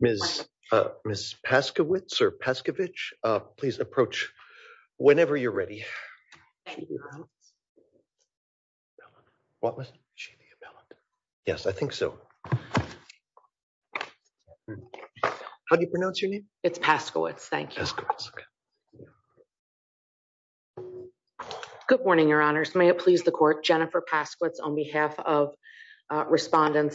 Ms. Paskowitz or Pescovich, please approach whenever you're ready. I think so. How do you pronounce your name? It's Paskowitz. Thank you. Good morning, Your Honors. May it please the Court. Jennifer Paskowitz on behalf of Attorney General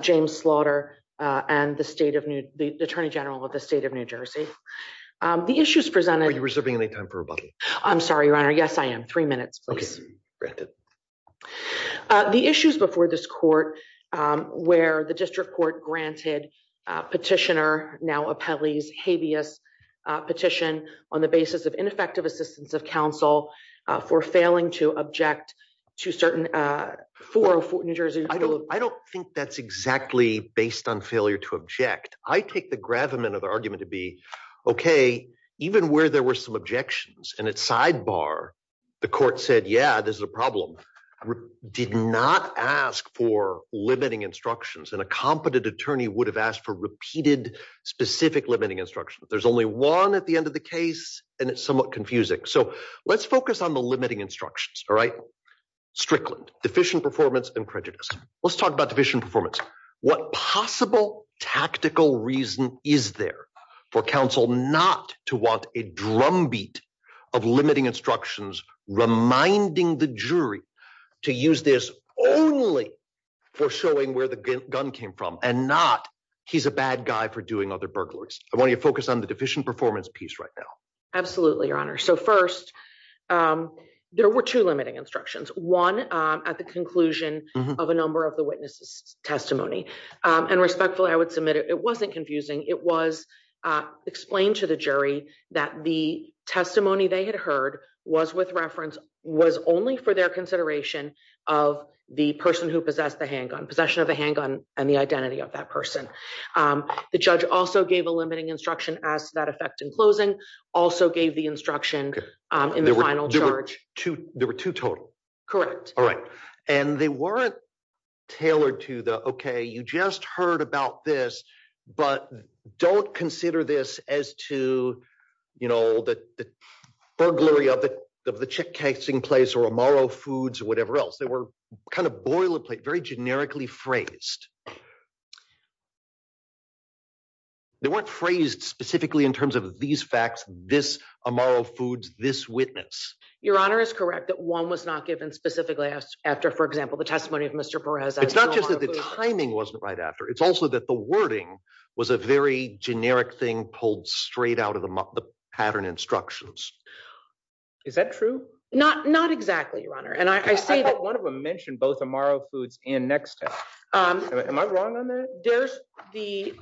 James Slaughter and the Attorney General of the State of New Jersey. The issues presented... Are you reserving any time for rebuttal? I'm sorry, Your Honor. Yes, I am. Three minutes, please. Okay. Granted. The issues before this Court where the District Court granted Petitioner, now Appellee's, habeas petition on the basis of ineffective assistance of counsel for failing to object to certain... I don't think that's exactly based on failure to object. I take the gravamen of the argument to be, okay, even where there were some objections and it's sidebar, the Court said, yeah, this is a problem, did not ask for limiting instructions. And a competent attorney would have asked for repeated specific limiting instructions. There's only one at the end of the case and it's somewhat confusing. So let's focus on the limiting instructions, all right? Strickland, deficient performance and prejudice. Let's talk about deficient performance. What possible tactical reason is there for counsel not to want a drumbeat of limiting instructions, reminding the jury to use this only for showing where the gun came from and not, he's a bad guy for doing other burglaries. I want you to focus on the deficient performance piece right now. Absolutely, Your Honor. So first, there were two limiting instructions, one at the conclusion of a number of the witnesses' testimony. And respectfully, I would submit it wasn't confusing. It was explained to the jury that the testimony they had heard was with reference, was only for their consideration of the person who possessed the handgun, possession of the handgun and the identity of that person. The judge also gave a limiting instruction as to that effect in closing, also gave the instruction in the final charge. There were two total? Correct. All right. And they weren't tailored to the, okay, you just heard about this, but don't consider this as to, you know, the burglary of the chick casing place or Amaro Foods or whatever else. They were kind of boilerplate, very generically phrased. They weren't phrased specifically in terms of these facts, this Amaro Foods, this witness. Your Honor is correct that one was not given specifically after, for example, the testimony of Mr. Perez. It's not just that the timing wasn't right after, it's also that the wording was a very generic thing pulled straight out of the pattern instructions. Is that true? Not, not exactly, Your Honor. And I say that one of them mentioned both Amaro Foods and Next Step. Am I wrong on that? There's the,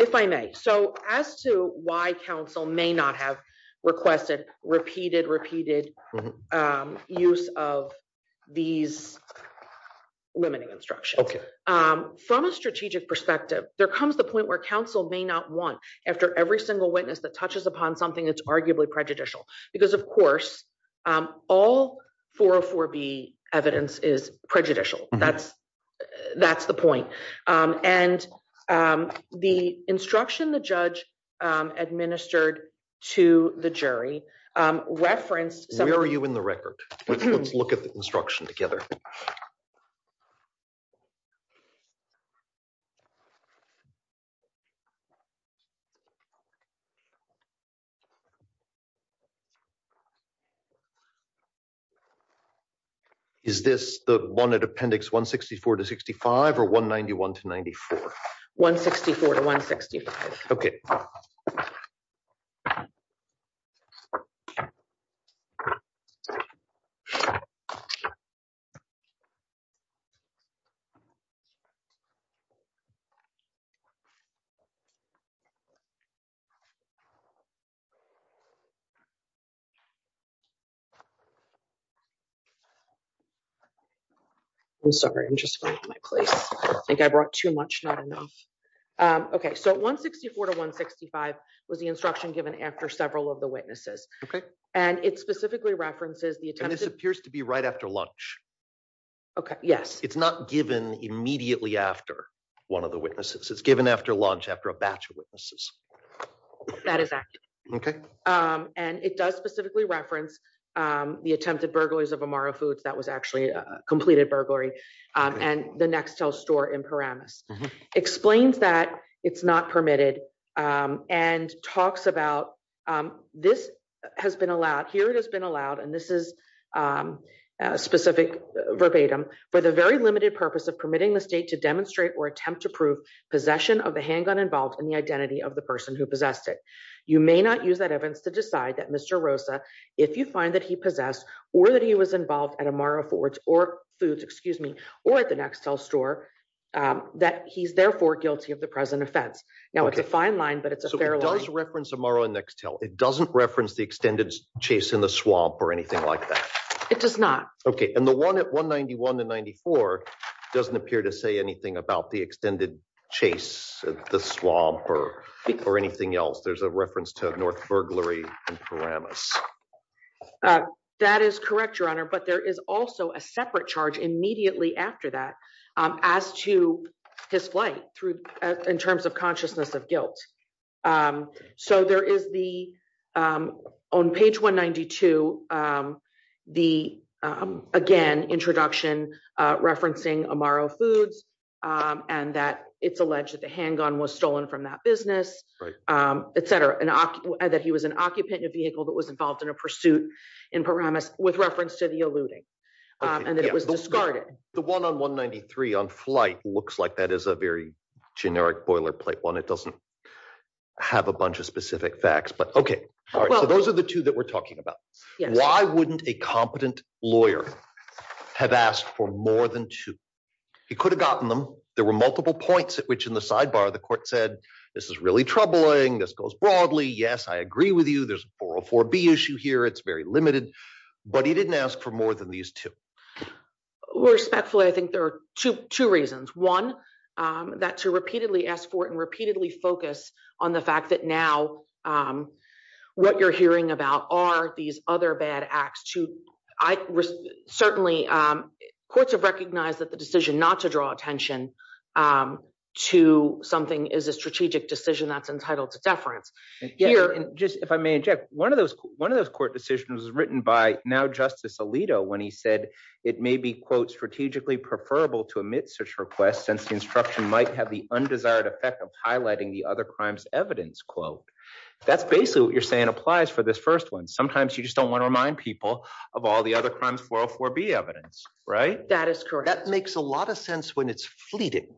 if I may. So as to why counsel may not have requested repeated, repeated use of these limiting instructions. Okay. From a strategic perspective, there comes the point where counsel may not want after every single witness that touches upon something that's arguably prejudicial. Because of course, all 404B evidence is prejudicial. That's, that's the point. And the instruction the judge administered to the jury referenced- Where are you in the record? Let's look at the instruction together. Is this the one at appendix 164 to 65 or 191 to 94? 164 to 165. Okay. I'm sorry. I'm just finding my place. I think I brought too much, not enough. Okay. So 164 to 165 was the instruction given after several of the witnesses. Okay. And it specifically references the attempt- And this appears to be right after lunch. Okay. Yes. It's not given immediately after one of the witnesses. It's given after lunch, after a batch of witnesses. That is accurate. Okay. And it does specifically reference the attempted burglaries of Amaro Foods, that was actually a completed burglary, and the Nextel store in Paramus. Explains that it's not permitted and talks about this has been allowed, here it has been allowed, and this is specific verbatim, for the very limited purpose of permitting the state to demonstrate or attempt to prove possession of the handgun involved in the identity of the person who possessed it. You may not use that evidence to decide that Mr. Rosa, if you find that he possessed or that he was involved at Amaro Foods or at the Nextel store, that he's therefore guilty of the present offense. Now it's a fine line, but it's a fair line. So it does reference Amaro and Nextel. It doesn't reference the extended chase in the swamp or anything like that. It does not. Okay. And the chase at the swamp or anything else, there's a reference to North Burglary in Paramus. That is correct, Your Honor, but there is also a separate charge immediately after that as to his flight in terms of consciousness of guilt. So there is the, on page 192, the, again, introduction referencing Amaro Foods and that it's alleged that the handgun was stolen from that business, et cetera, that he was an occupant in a vehicle that was involved in a pursuit in Paramus with reference to the eluding and that it was discarded. The one on 193 on flight looks like that is a very generic boilerplate one. It doesn't have a bunch of points. Why wouldn't a competent lawyer have asked for more than two? He could have gotten them. There were multiple points at which in the sidebar, the court said, this is really troubling. This goes broadly. Yes, I agree with you. There's a 404B issue here. It's very limited, but he didn't ask for more than these two. Respectfully, I think there are two reasons. One, that to repeatedly ask for it and repeatedly focus on the fact that now what you're hearing about are these other bad acts. Certainly, courts have recognized that the decision not to draw attention to something is a strategic decision that's entitled to deference. If I may interject, one of those court decisions was written by now Justice Alito when he said it may be quote, strategically preferable to omit such requests since the instruction might have the undesired effect of highlighting the other crimes evidence quote. That's basically what you're saying applies for this first one. Sometimes you just don't want to remind people of all the other crimes 404B evidence, right? That is correct. That makes a lot of sense when it's fleeting,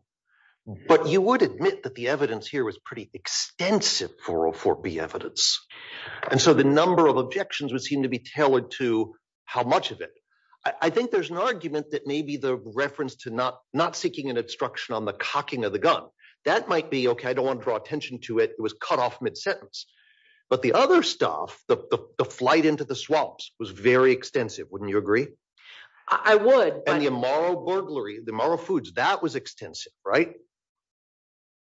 but you would admit that the evidence here was pretty extensive 404B evidence. So the number of objections would seem to be tailored to how much of it. I think there's an argument that maybe the reference to not seeking an obstruction on the cocking of the gun, that might be okay. I don't want to draw attention to it. It was cut off mid-sentence, but the other stuff, the flight into the swamps was very extensive. Wouldn't you agree? I would. And the Amaro burglary, the Amaro Foods, that was extensive, right?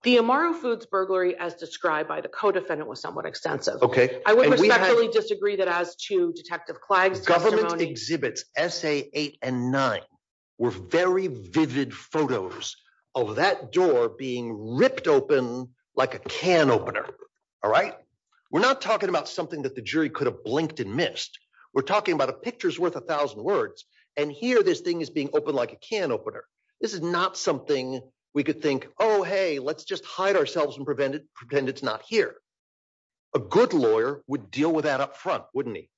The Amaro Foods burglary as described by the co-defendant was somewhat extensive. I would respectfully disagree that as to Detective Clagg's testimony. The defense exhibits SA8 and 9 were very vivid photos of that door being ripped open like a can opener, all right? We're not talking about something that the jury could have blinked and missed. We're talking about a picture's worth a thousand words, and here this thing is being opened like a can opener. This is not something we could think, oh, hey, let's just hide ourselves and pretend it's not here. A good lawyer would deal with that up front, wouldn't he?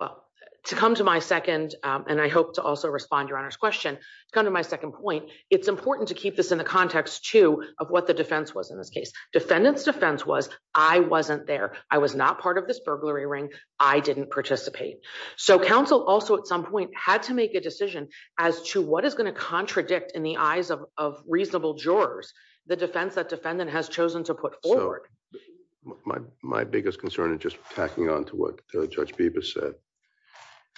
Well, to come to my second, and I hope to also respond to your Honor's question, to come to my second point, it's important to keep this in the context too of what the defense was in this case. Defendant's defense was, I wasn't there. I was not part of this burglary ring. I didn't participate. So counsel also at some point had to make a decision as to what is going to contradict in the eyes of reasonable jurors the defense that defendant has chosen to put forward. My biggest concern, and just tacking on to what Judge Bibas said,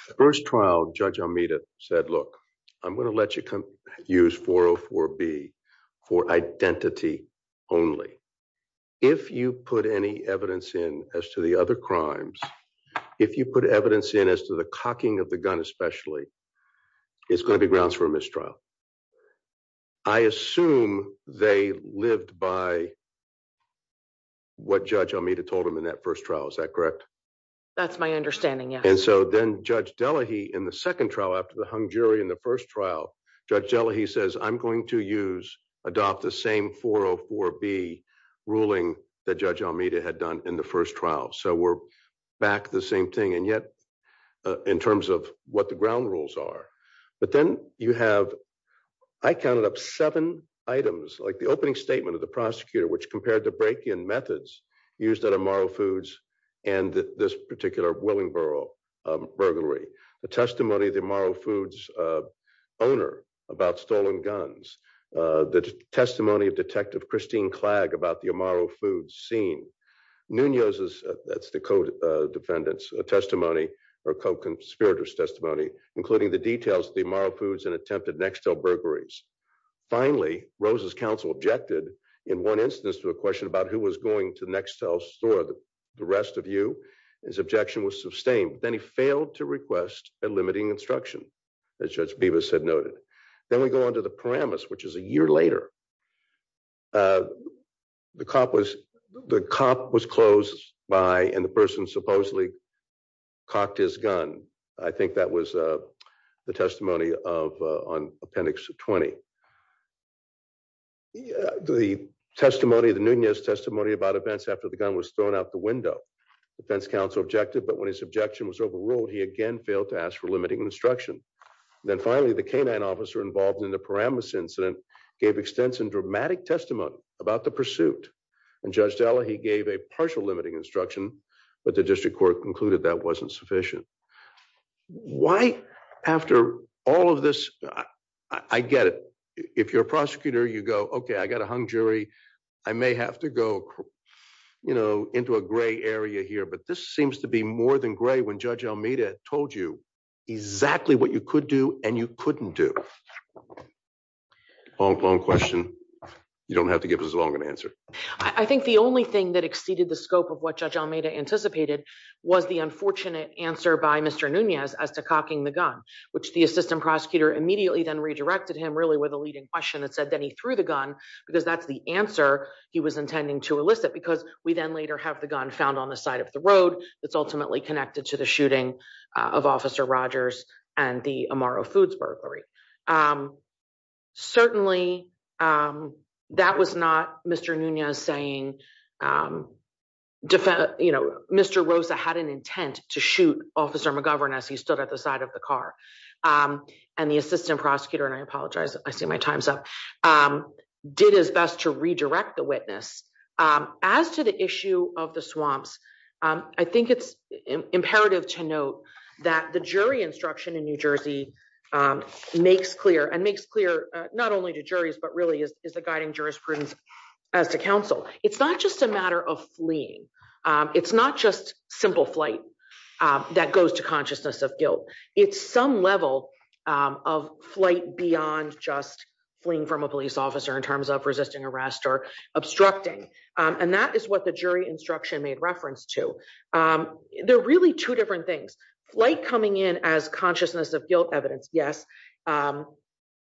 the first trial, Judge Almeida said, look, I'm going to let you use 404B for identity only. If you put any evidence in as to the other crimes, if you put evidence in as to the cocking of the gun especially, it's going to be grounds for a mistrial. I assume they lived by what Judge Almeida told them in that first trial. Is that correct? That's my understanding, yes. And so then Judge Delahey in the second trial, after the hung jury in the first trial, Judge Delahey says, I'm going to adopt the same 404B ruling that Judge Almeida had done in the first trial. But then you have, I counted up seven items, like the opening statement of the prosecutor which compared the break-in methods used at Amaro Foods and this particular Willingboro burglary, the testimony of the Amaro Foods owner about stolen guns, the testimony of Detective Christine Clagg about the Amaro Foods scene, Nunez's, that's the co-defendant's testimony or co-conspirator's testimony, including the details of the Amaro Foods and attempted Nextel burglaries. Finally, Rose's counsel objected in one instance to a question about who was going to Nextel's store, the rest of you. His objection was sustained. Then he failed to request a limiting instruction, as Judge Bibas had noted. Then we go on to the Paramus, which is a year later. The cop was, the cop was closed by, and the person supposedly cocked his gun. I think that was the testimony of, on Appendix 20. The testimony, the Nunez testimony about events after the gun was thrown out the window. The defense counsel objected, but when his objection was overruled, he again failed to ask for limiting instruction. Then finally, the canine officer involved in the incident gave extensive and dramatic testimony about the pursuit. And Judge Della, he gave a partial limiting instruction, but the district court concluded that wasn't sufficient. Why after all of this, I get it. If you're a prosecutor, you go, okay, I got a hung jury. I may have to go, you know, into a gray area here, but this seems to be more than gray when Judge Almeida told you exactly what you could do and you couldn't do. Long, long question. You don't have to give us a longer answer. I think the only thing that exceeded the scope of what Judge Almeida anticipated was the unfortunate answer by Mr. Nunez as to cocking the gun, which the assistant prosecutor immediately then redirected him really with a leading question that said that he threw the gun because that's the answer he was intending to elicit. Because we then later have the gun found on the side of the road that's ultimately connected to the shooting of Officer Rogers and the Amaro Foods burglary. Certainly, that was not Mr. Nunez saying, you know, Mr. Rosa had an intent to shoot Officer McGovern as he stood at the side of the car. And the assistant prosecutor, and I apologize, I see my time's up, did his best to redirect the witness. As to the issue of the swamps, I think it's imperative to note that the jury instruction in New Jersey makes clear, and makes clear not only to juries, but really is the guiding jurisprudence as to counsel. It's not just a matter of fleeing. It's not just simple flight that goes to consciousness of guilt. It's some level of flight beyond just fleeing from a police officer in terms of resisting arrest, or obstructing. And that is what the jury instruction made reference to. They're really two different things. Flight coming in as consciousness of guilt evidence, yes.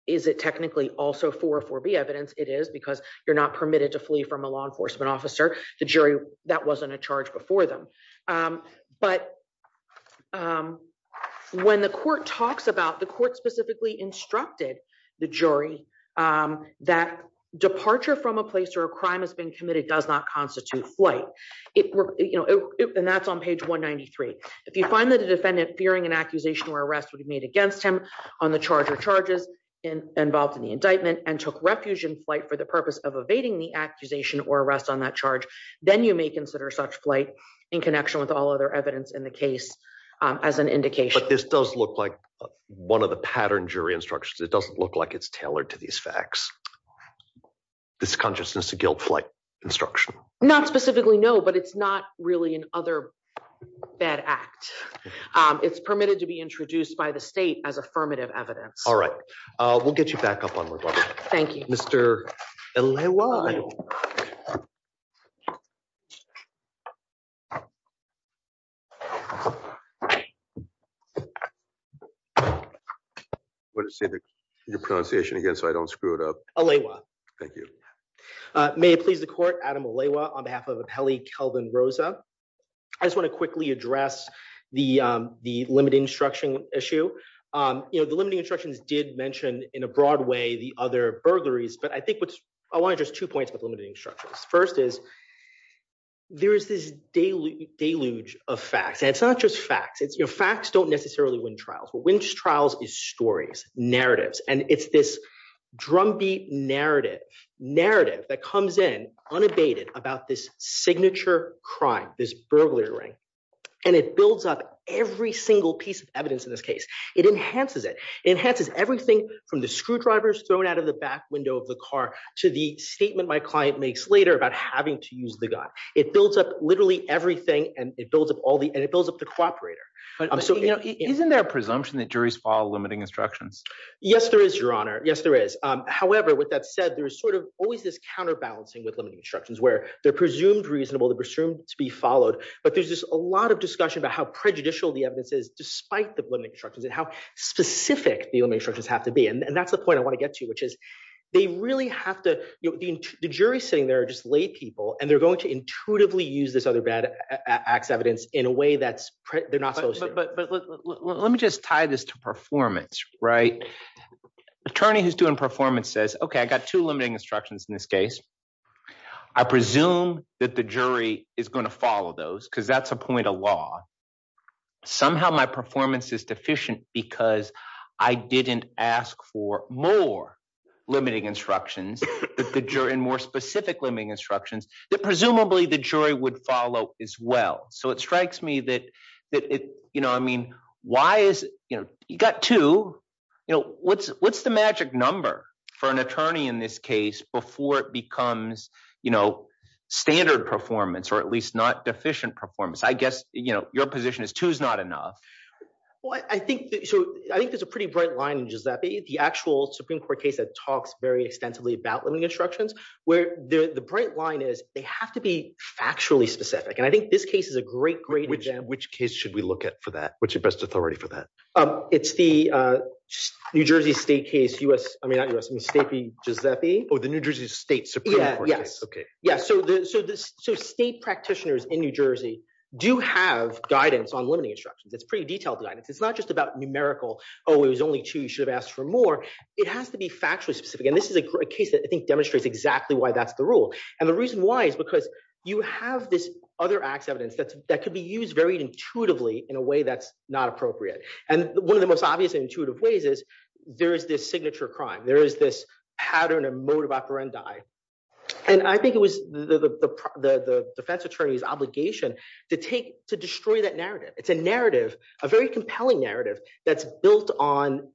Is it technically also 404B evidence? It is because you're not permitted to flee from a law enforcement officer, the jury, that wasn't a charge before them. But when the court talks about, the court specifically instructed the jury that departure from a place where a crime has been committed does not constitute flight. And that's on page 193. If you find that a defendant fearing an accusation or arrest would be made against him on the charge or charges involved in the indictment, and took refuge in flight for the purpose of evading the accusation or arrest on that charge, then you may consider such flight in connection with all other evidence in the case as an indication. But this does look like one of the pattern jury instructions. It doesn't look like it's tailored to these facts. This consciousness of guilt flight instruction? Not specifically, no. But it's not really an other bad act. It's permitted to be introduced by the state as affirmative evidence. All right. We'll get you back up on record. Thank you, Mr. Aleiwa. What is your pronunciation again, so I don't screw it up? Aleiwa. Thank you. May it please the court, Adam Aleiwa on behalf of Apelli Kelvin Rosa. I just want to quickly address the limiting instruction issue. The limiting instructions did mention in a broad way the other burglaries. But I think I want to just two points with limiting instructions. First is there is this deluge of facts. And it's not just facts. Facts don't necessarily win trials. What wins trials is stories, narratives. And it's this drumbeat narrative that comes in about this signature crime, this burglary ring. And it builds up every single piece of evidence in this case. It enhances it. It enhances everything from the screwdrivers thrown out of the back window of the car to the statement my client makes later about having to use the gun. It builds up literally everything. And it builds up all the and it builds up the cooperator. Isn't there a presumption that juries follow limiting instructions? Yes, there is, Your Honor. Yes, there is. However, with that said, there's sort of always this counterbalancing with limiting instructions where they're presumed reasonable, they're presumed to be followed. But there's just a lot of discussion about how prejudicial the evidence is despite the limiting instructions and how specific the limiting instructions have to be. And that's the point I want to get to, which is they really have to, the jury sitting there are just laypeople. And they're going to intuitively use this other bad acts evidence in a way that they're not supposed to. But let me just tie this to performance, right? Attorney who's doing performance says, okay, I got two limiting instructions in this case. I presume that the jury is going to follow those because that's a point of law. Somehow my performance is deficient because I didn't ask for more limiting instructions that the jury and more specific limiting instructions that presumably the jury would as well. So it strikes me that, you know, I mean, why is it, you know, you got two, you know, what's the magic number for an attorney in this case before it becomes, you know, standard performance, or at least not deficient performance? I guess, you know, your position is two is not enough. Well, I think, so I think there's a pretty bright line in Giuseppe, the actual Supreme Court case that talks very extensively about limiting instructions, where the bright line is, they have to be factually specific. And I think this case is a great, great exam. Which case should we look at for that? What's your best authority for that? It's the New Jersey State case, US, I mean, not US, I mean, State v. Giuseppe. Oh, the New Jersey State Supreme Court case. Yes. Okay. Yes. So state practitioners in New Jersey do have guidance on limiting instructions. It's pretty detailed guidance. It's not just about numerical, oh, it was only two, you should have asked for more. It has to be factually specific. And this is a case I think demonstrates exactly why that's the rule. And the reason why is because you have this other acts evidence that could be used very intuitively in a way that's not appropriate. And one of the most obvious intuitive ways is there is this signature crime, there is this pattern and mode of operandi. And I think it was the defense attorney's obligation to take to destroy that narrative. It's a narrative, a very compelling narrative that's built on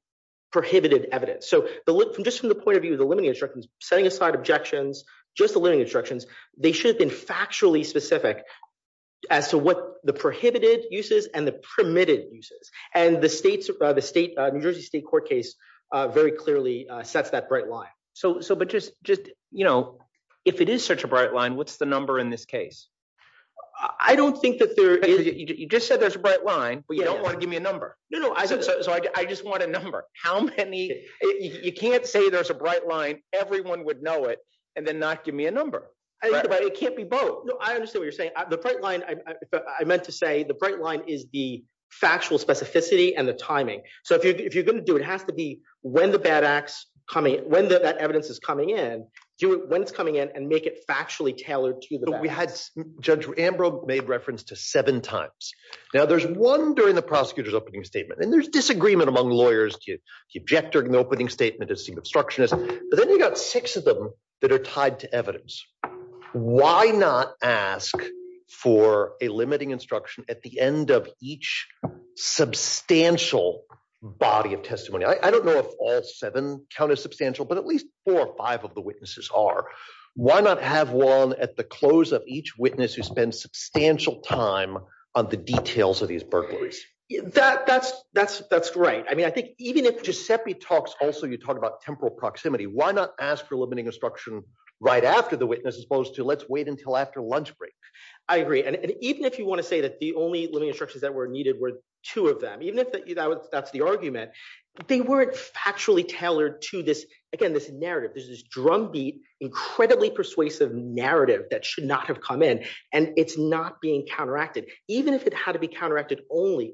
prohibited evidence. Just from the point of view of the limiting instructions, setting aside objections, just the limiting instructions, they should have been factually specific as to what the prohibited uses and the permitted uses. And the New Jersey State court case very clearly sets that bright line. If it is such a bright line, what's the number in this case? I don't think that there is. You just said there's a bright line, but you don't want to number. So I just want a number. You can't say there's a bright line, everyone would know it, and then not give me a number. It can't be both. I understand what you're saying. The bright line, I meant to say the bright line is the factual specificity and the timing. So if you're going to do it, it has to be when the bad acts coming, when that evidence is coming in, do it when it's coming in and make it factually tailored to the bad. Judge Ambrose made reference to seven times. Now, there's one during the prosecutor's opening statement, and there's disagreement among lawyers to object during the opening statement to seem obstructionist. But then you've got six of them that are tied to evidence. Why not ask for a limiting instruction at the end of each substantial body of testimony? I don't know if all seven count as substantial, but at least four or five of the witnesses are. Why not have one at the close of each witness who spends substantial time on the details of these burglaries? That's right. I mean, I think even if Giuseppe talks also, you talk about temporal proximity, why not ask for limiting instruction right after the witness as opposed to let's wait until after lunch break? I agree. And even if you want to say that the only limiting instructions that were needed were two of them, even if that's the argument, they weren't factually tailored to this, again, this narrative. There's this drumbeat, incredibly persuasive narrative that should not have come in, and it's not being counteracted. Even if it had to be counteracted only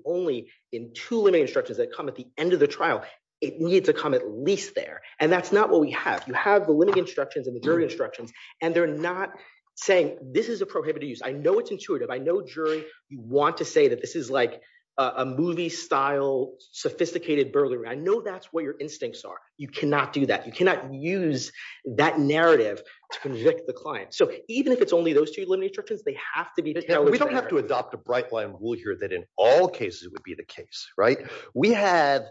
in two limiting instructions that come at the end of the trial, it needs to come at least there. And that's not what we have. You have the limiting instructions and the jury instructions, and they're not saying this is a prohibited use. I know it's intuitive. I know jury, you want to say that this is like a movie-style sophisticated burglary. I know that's what your instincts are. You cannot do that. You cannot use that narrative to convict the client. So even if it's only those two limiting instructions, they have to be- We don't have to adopt a bright line rule here that in all cases, it would be the case, right? We have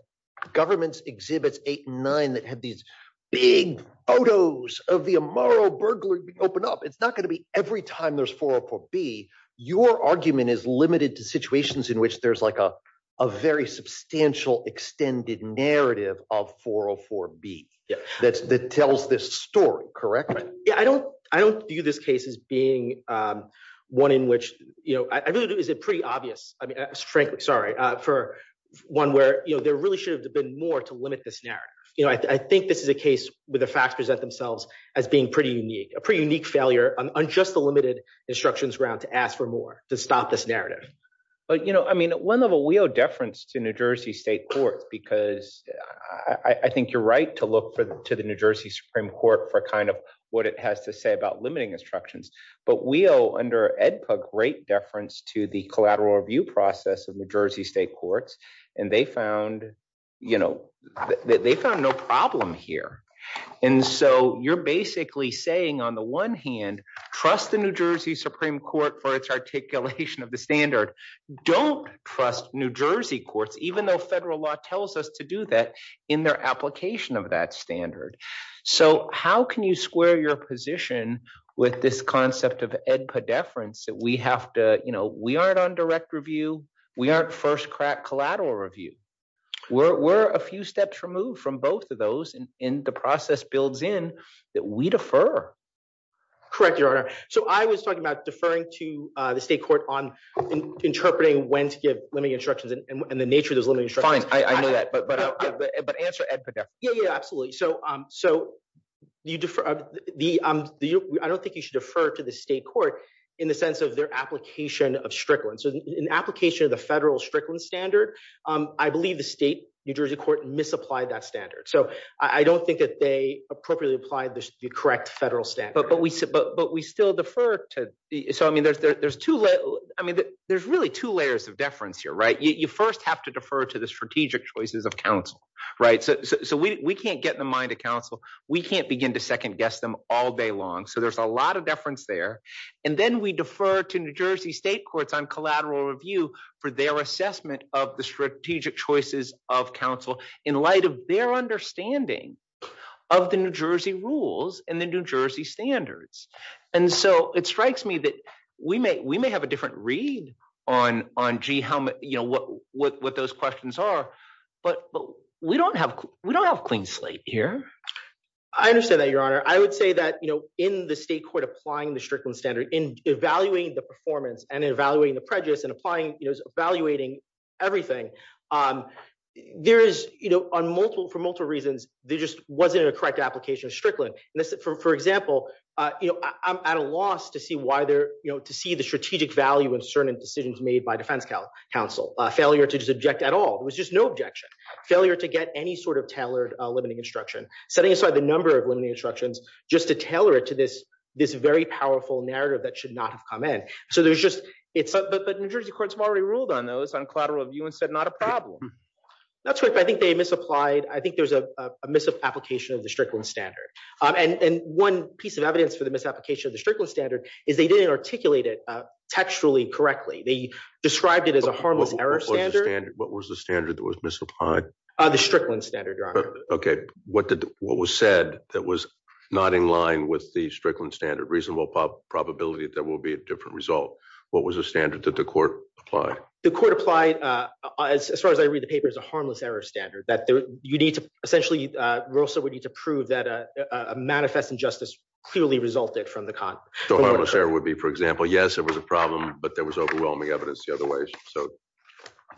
government's exhibits eight and nine that have these big photos of the Amaro burglary open up. It's not going to be every time there's 404B, your argument is limited to situations in which there's like a very substantial extended narrative of 404B that tells this story, correct? Yeah. I don't view this case as being one in which... I really do think it's pretty obvious. I mean, frankly, sorry, for one where there really should have been more to limit this narrative. I think this is a case where the facts present themselves as being pretty unique, a pretty unique failure on just the limited instructions ground to ask for more, to stop this narrative. I mean, at one level, we owe deference to New Jersey State Courts because I think you're right to look to the New Jersey Supreme Court for kind of what it has to say about limiting instructions. But we owe, under Edpug, great deference to the collateral review process of New Jersey State Courts. And they found no problem here. And so you're basically saying on the one hand, trust the New Jersey Supreme Court for its articulation of the standard. Don't trust New Jersey courts, even though federal law tells us to do that in their application of that standard. So how can you square your position with this concept of Edpug deference that we have to... We aren't on direct review. We aren't first crack collateral review. We're a few steps removed from both of those. And the process builds in that we defer. Correct, Your Honor. So I was talking about deferring to the state court on interpreting when to give limiting instructions and the nature of those limiting instructions. Fine, I know that. But answer Edpug there. Yeah, absolutely. So I don't think you should defer to the state court in the sense of their application of Strickland. So in application of the federal Strickland standard, I believe the New Jersey State Court misapplied that standard. So I don't think that they appropriately applied the correct federal standard. But we still defer to... So I mean, there's really two layers of deference here. You first have to defer to the strategic choices of counsel. So we can't get in the mind of counsel. We can't begin to second guess them all day long. So there's a lot of deference there. And then we defer to New Jersey State Courts on collateral review for their assessment of the strategic choices of counsel in light of their understanding of the New Jersey rules and the New Jersey standards. And so it strikes me that we may have a different read on what those questions are. But we don't have clean slate here. I understand that, Your Honor. I would say that in the state court applying the Strickland in evaluating the performance and evaluating the prejudice and evaluating everything, for multiple reasons, there just wasn't a correct application of Strickland. For example, I'm at a loss to see the strategic value in certain decisions made by defense counsel. Failure to just object at all. There was just no objection. Failure to get any sort of tailored limiting instruction. Setting aside the number of limiting instructions just to tailor it to this very powerful narrative that should not have come in. But New Jersey courts have already ruled on those, on collateral review, and said not a problem. That's right. But I think there's a misapplication of the Strickland standard. And one piece of evidence for the misapplication of the Strickland standard is they didn't articulate it textually correctly. They described it as a harmless error standard. What was the standard that was misapplied? The Strickland standard, Your Honor. Okay. What was said that was not in line with the Strickland standard? Reasonable probability that there will be a different result. What was the standard that the court applied? The court applied, as far as I read the paper, as a harmless error standard. Essentially, Rossa would need to prove that a manifest injustice clearly resulted from the con. The harmless error would be, for example, yes, it was a problem, but there was overwhelming evidence the other ways.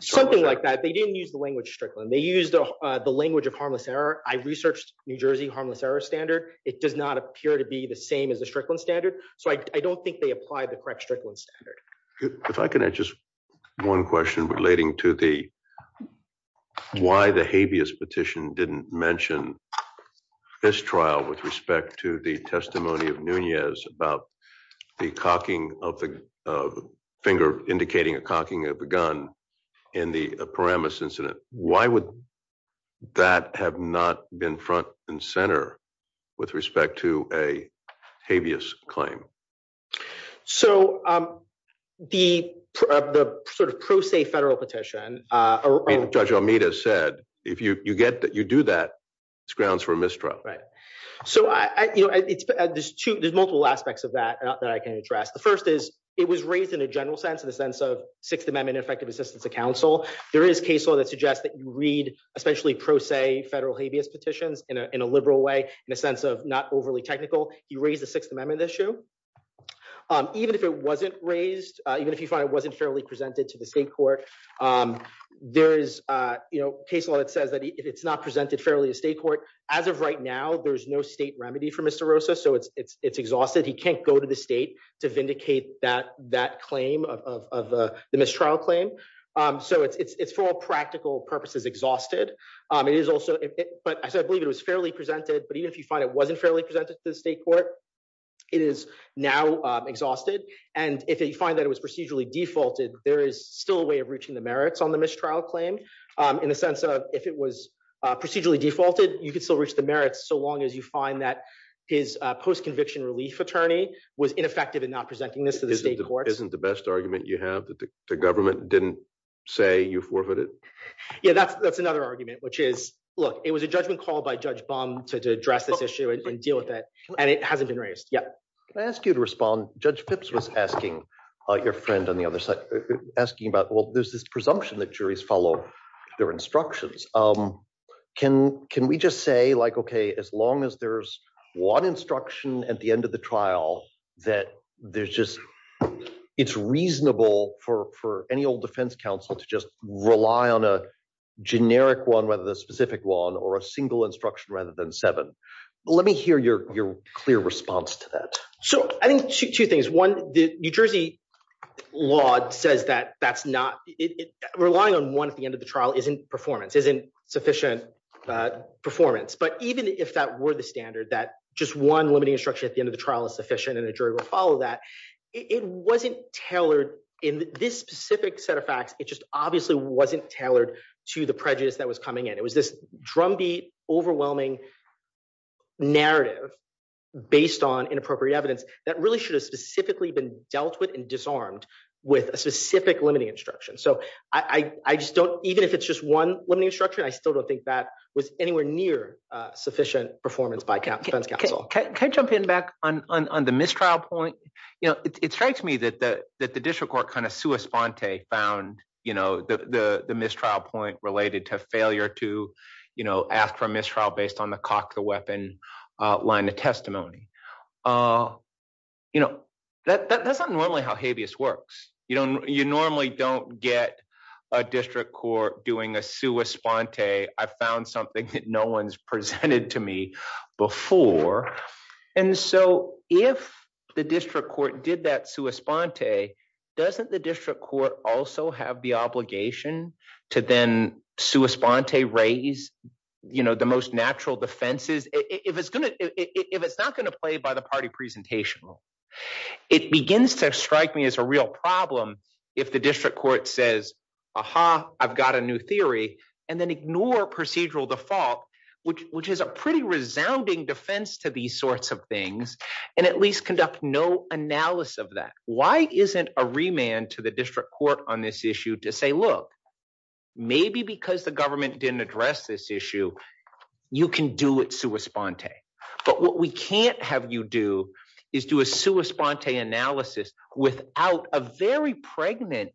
Something like that. They didn't use the language Strickland. They used the language of harmless error. I researched New Jersey harmless error standard. It does not appear to be the same as the Strickland standard. So I don't think they applied the correct Strickland standard. If I can add just one question relating to the why the habeas petition didn't mention this trial with respect to the testimony of Nunez about the cocking of the finger indicating a gun in the Paramus incident. Why would that have not been front and center with respect to a habeas claim? So the sort of pro se federal petition, Judge Almeida said, if you do that, it's grounds for a mistrial. Right. So there's multiple aspects of that that I can address. The first is it was raised in a general sense, in the sense of Sixth Amendment effective assistance of counsel. There is case law that suggests that you read especially pro se federal habeas petitions in a liberal way, in a sense of not overly technical. You raise the Sixth Amendment issue even if it wasn't raised, even if you find it wasn't fairly presented to the state court. There is case law that says that if it's not presented fairly to state court, as of right now, there's no state remedy for Mr. Rosa. So it's exhausted. He can't go to the state to vindicate that claim of the mistrial claim. So it's for all practical purposes exhausted. But I believe it was fairly presented. But even if you find it wasn't fairly presented to the state court, it is now exhausted. And if you find that it was procedurally defaulted, there is still a way of reaching the merits on the mistrial claim, in the sense of if it was procedurally defaulted, you could still reach the merits so long as you find that his post-conviction relief attorney was ineffective in not presenting this to the state court. Isn't the best argument you have that the government didn't say you forfeited? Yeah, that's another argument, which is, look, it was a judgment called by Judge Baum to address this issue and deal with it. And it hasn't been raised yet. Can I ask you to respond? Judge Pipps was asking your friend on the other side, asking about, well, there's this presumption that juries follow their instructions. Can we just say, like, OK, as long as there's one instruction at the end of the trial that there's just it's reasonable for any old defense counsel to just rely on a generic one, whether the specific one, or a single instruction rather than seven? Let me hear your clear response to that. So I think two things. One, the New Jersey law says that relying on one at the end of the trial isn't performance, isn't sufficient performance. But even if that were the standard that just one limiting instruction at the end of the trial is sufficient and a jury will follow that, it wasn't tailored in this specific set of facts. It just obviously wasn't tailored to the prejudice that was coming in. It was this drumbeat, overwhelming narrative based on inappropriate evidence that really should have specifically been dealt with and disarmed with a specific limiting instruction. So I just don't, even if it's just one limiting instruction, I still don't think that was anywhere near sufficient performance by defense counsel. Can I jump in back on the mistrial point? It strikes me that the district court kind of sua sponte found the mistrial point related to failure to ask for a mistrial based on cock the weapon line of testimony. That's not normally how habeas works. You normally don't get a district court doing a sua sponte. I've found something that no one's presented to me before. And so if the district court did that sua sponte, doesn't the district court also have the to then sua sponte raise the most natural defenses? If it's not going to play by the party presentational, it begins to strike me as a real problem if the district court says, aha, I've got a new theory, and then ignore procedural default, which is a pretty resounding defense to these sorts of things, and at least conduct no analysis of that. Why isn't a remand to the district court on this issue to say, look, maybe because the government didn't address this issue, you can do it sua sponte. But what we can't have you do is do a sua sponte analysis without a very pregnant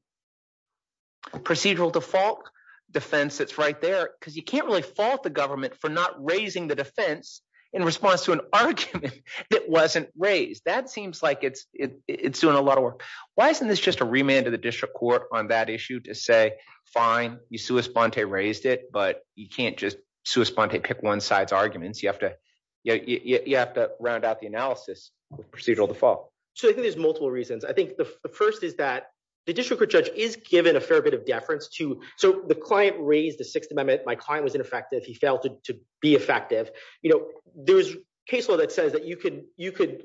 procedural default defense that's right there, because you can't really fault the government for not raising the defense in response to an argument that wasn't raised. That the district court on that issue to say, fine, you sua sponte raised it, but you can't just sua sponte pick one side's arguments. You have to round out the analysis of procedural default. So I think there's multiple reasons. I think the first is that the district court judge is given a fair bit of deference to, so the client raised the Sixth Amendment, my client was ineffective, he failed to be effective. There's case law that says that you could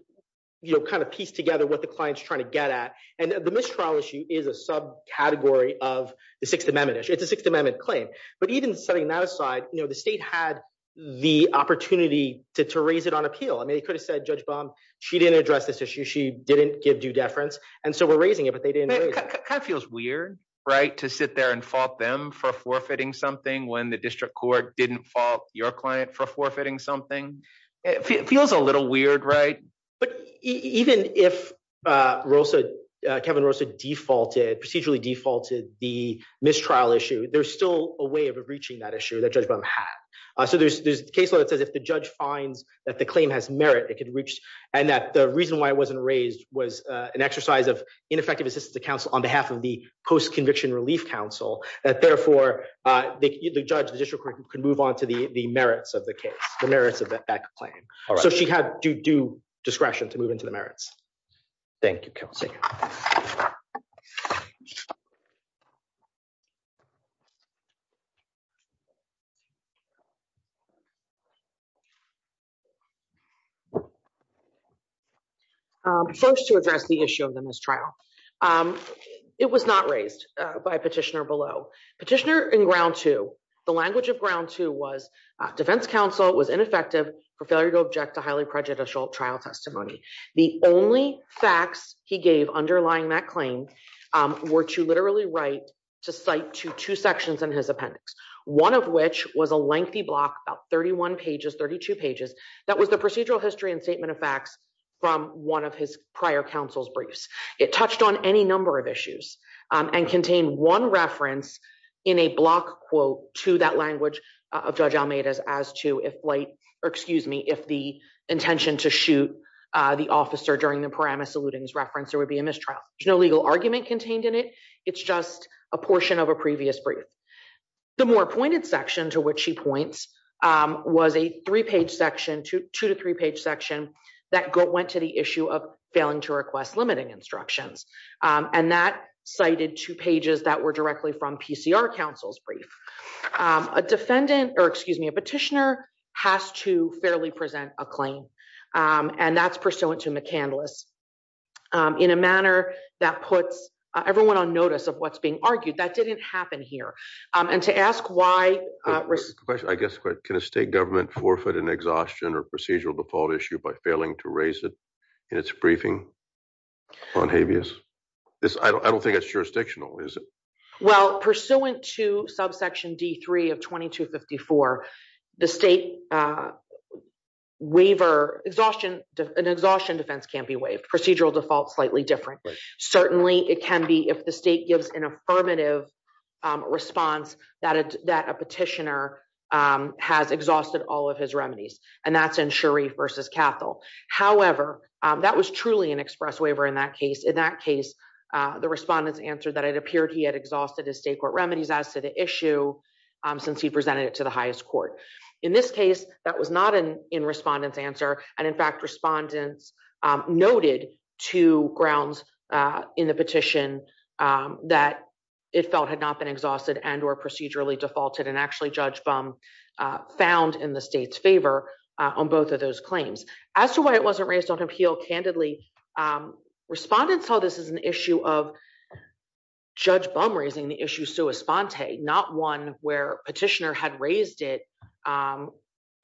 kind of piece together what the client's trying to get at. And the mistrial issue is a subcategory of the Sixth Amendment issue. It's a Sixth Amendment claim. But even setting that aside, the state had the opportunity to raise it on appeal. I mean, they could have said, Judge Baum, she didn't address this issue, she didn't give due deference. And so we're raising it, but they didn't. It kind of feels weird, right, to sit there and fault them for forfeiting something when the district court didn't fault your client for forfeiting something. It feels a little weird, right? But even if Kevin Rosa procedurally defaulted the mistrial issue, there's still a way of reaching that issue that Judge Baum had. So there's case law that says if the judge finds that the claim has merit, it could reach, and that the reason why it wasn't raised was an exercise of ineffective assistance to counsel on behalf of the post-conviction relief counsel, that therefore, the judge, the district court, could move on to the merits of the case, the merits of that claim. So she had due discretion to move into the merits. Thank you, Kelsey. First, to address the issue of the mistrial. It was not raised by petitioner below. Petitioner the language of ground two was defense counsel was ineffective for failure to object to highly prejudicial trial testimony. The only facts he gave underlying that claim were to literally write to cite to two sections in his appendix, one of which was a lengthy block about 31 pages, 32 pages. That was the procedural history and statement of facts from one of his prior counsel's briefs. It touched on any number of issues and contained one reference in a block quote to that language of Judge Almeida's as to if like, or excuse me, if the intention to shoot the officer during the Paramus eludings reference, there would be a mistrial. There's no legal argument contained in it. It's just a portion of a previous brief. The more pointed section to which she points was a three-page section, two to three-page section that went to the issue of failing to request limiting instructions. And that cited two pages that were directly from PCR counsel's brief. A defendant or excuse me, a petitioner has to fairly present a claim and that's pursuant to McCandless in a manner that puts everyone on notice of what's being argued. That didn't happen here. And to ask why... I guess, can a state government forfeit an exhaustion or procedural default issue by failing to raise it in its briefing on habeas? I don't think it's jurisdictional, is it? Well, pursuant to subsection D3 of 2254, the state waiver exhaustion, an exhaustion defense can't be waived. Procedural default, slightly different. Certainly it can be if the state gives an affirmative response that a petitioner has exhausted all of his and that's in Sharif versus Cathol. However, that was truly an express waiver in that case. In that case, the respondents answered that it appeared he had exhausted his state court remedies as to the issue since he presented it to the highest court. In this case, that was not an in-respondent's answer. And in fact, respondents noted two grounds in the petition that it felt had not exhausted and or procedurally defaulted. And actually Judge Bum found in the state's favor on both of those claims. As to why it wasn't raised on appeal candidly, respondents saw this as an issue of Judge Bum raising the issue sua sponte, not one where petitioner had raised it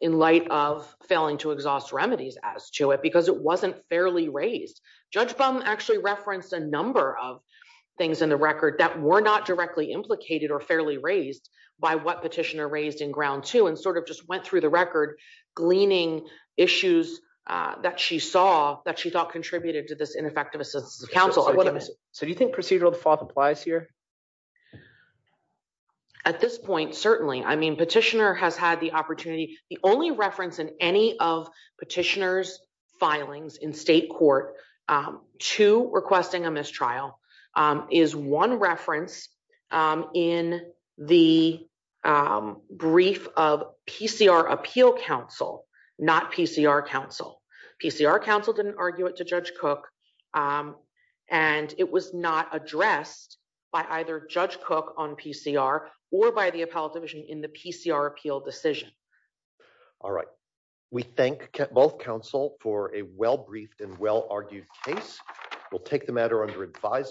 in light of failing to exhaust remedies as to it because it wasn't fairly raised. Judge Bum referenced a number of things in the record that were not directly implicated or fairly raised by what petitioner raised in ground two and sort of just went through the record gleaning issues that she saw that she thought contributed to this ineffective assistance of counsel. So do you think procedural default applies here? At this point, certainly. I mean, petitioner has had the opportunity, the only reference in any of petitioner's filings in state court to requesting a mistrial is one reference in the brief of PCR appeal counsel, not PCR counsel. PCR counsel didn't argue it to Judge Cook. And it was not addressed by either Judge Cook on PCR or by the appellate in the PCR appeal decision. All right. We thank both counsel for a well-briefed and well-argued case. We'll take the matter under advisement.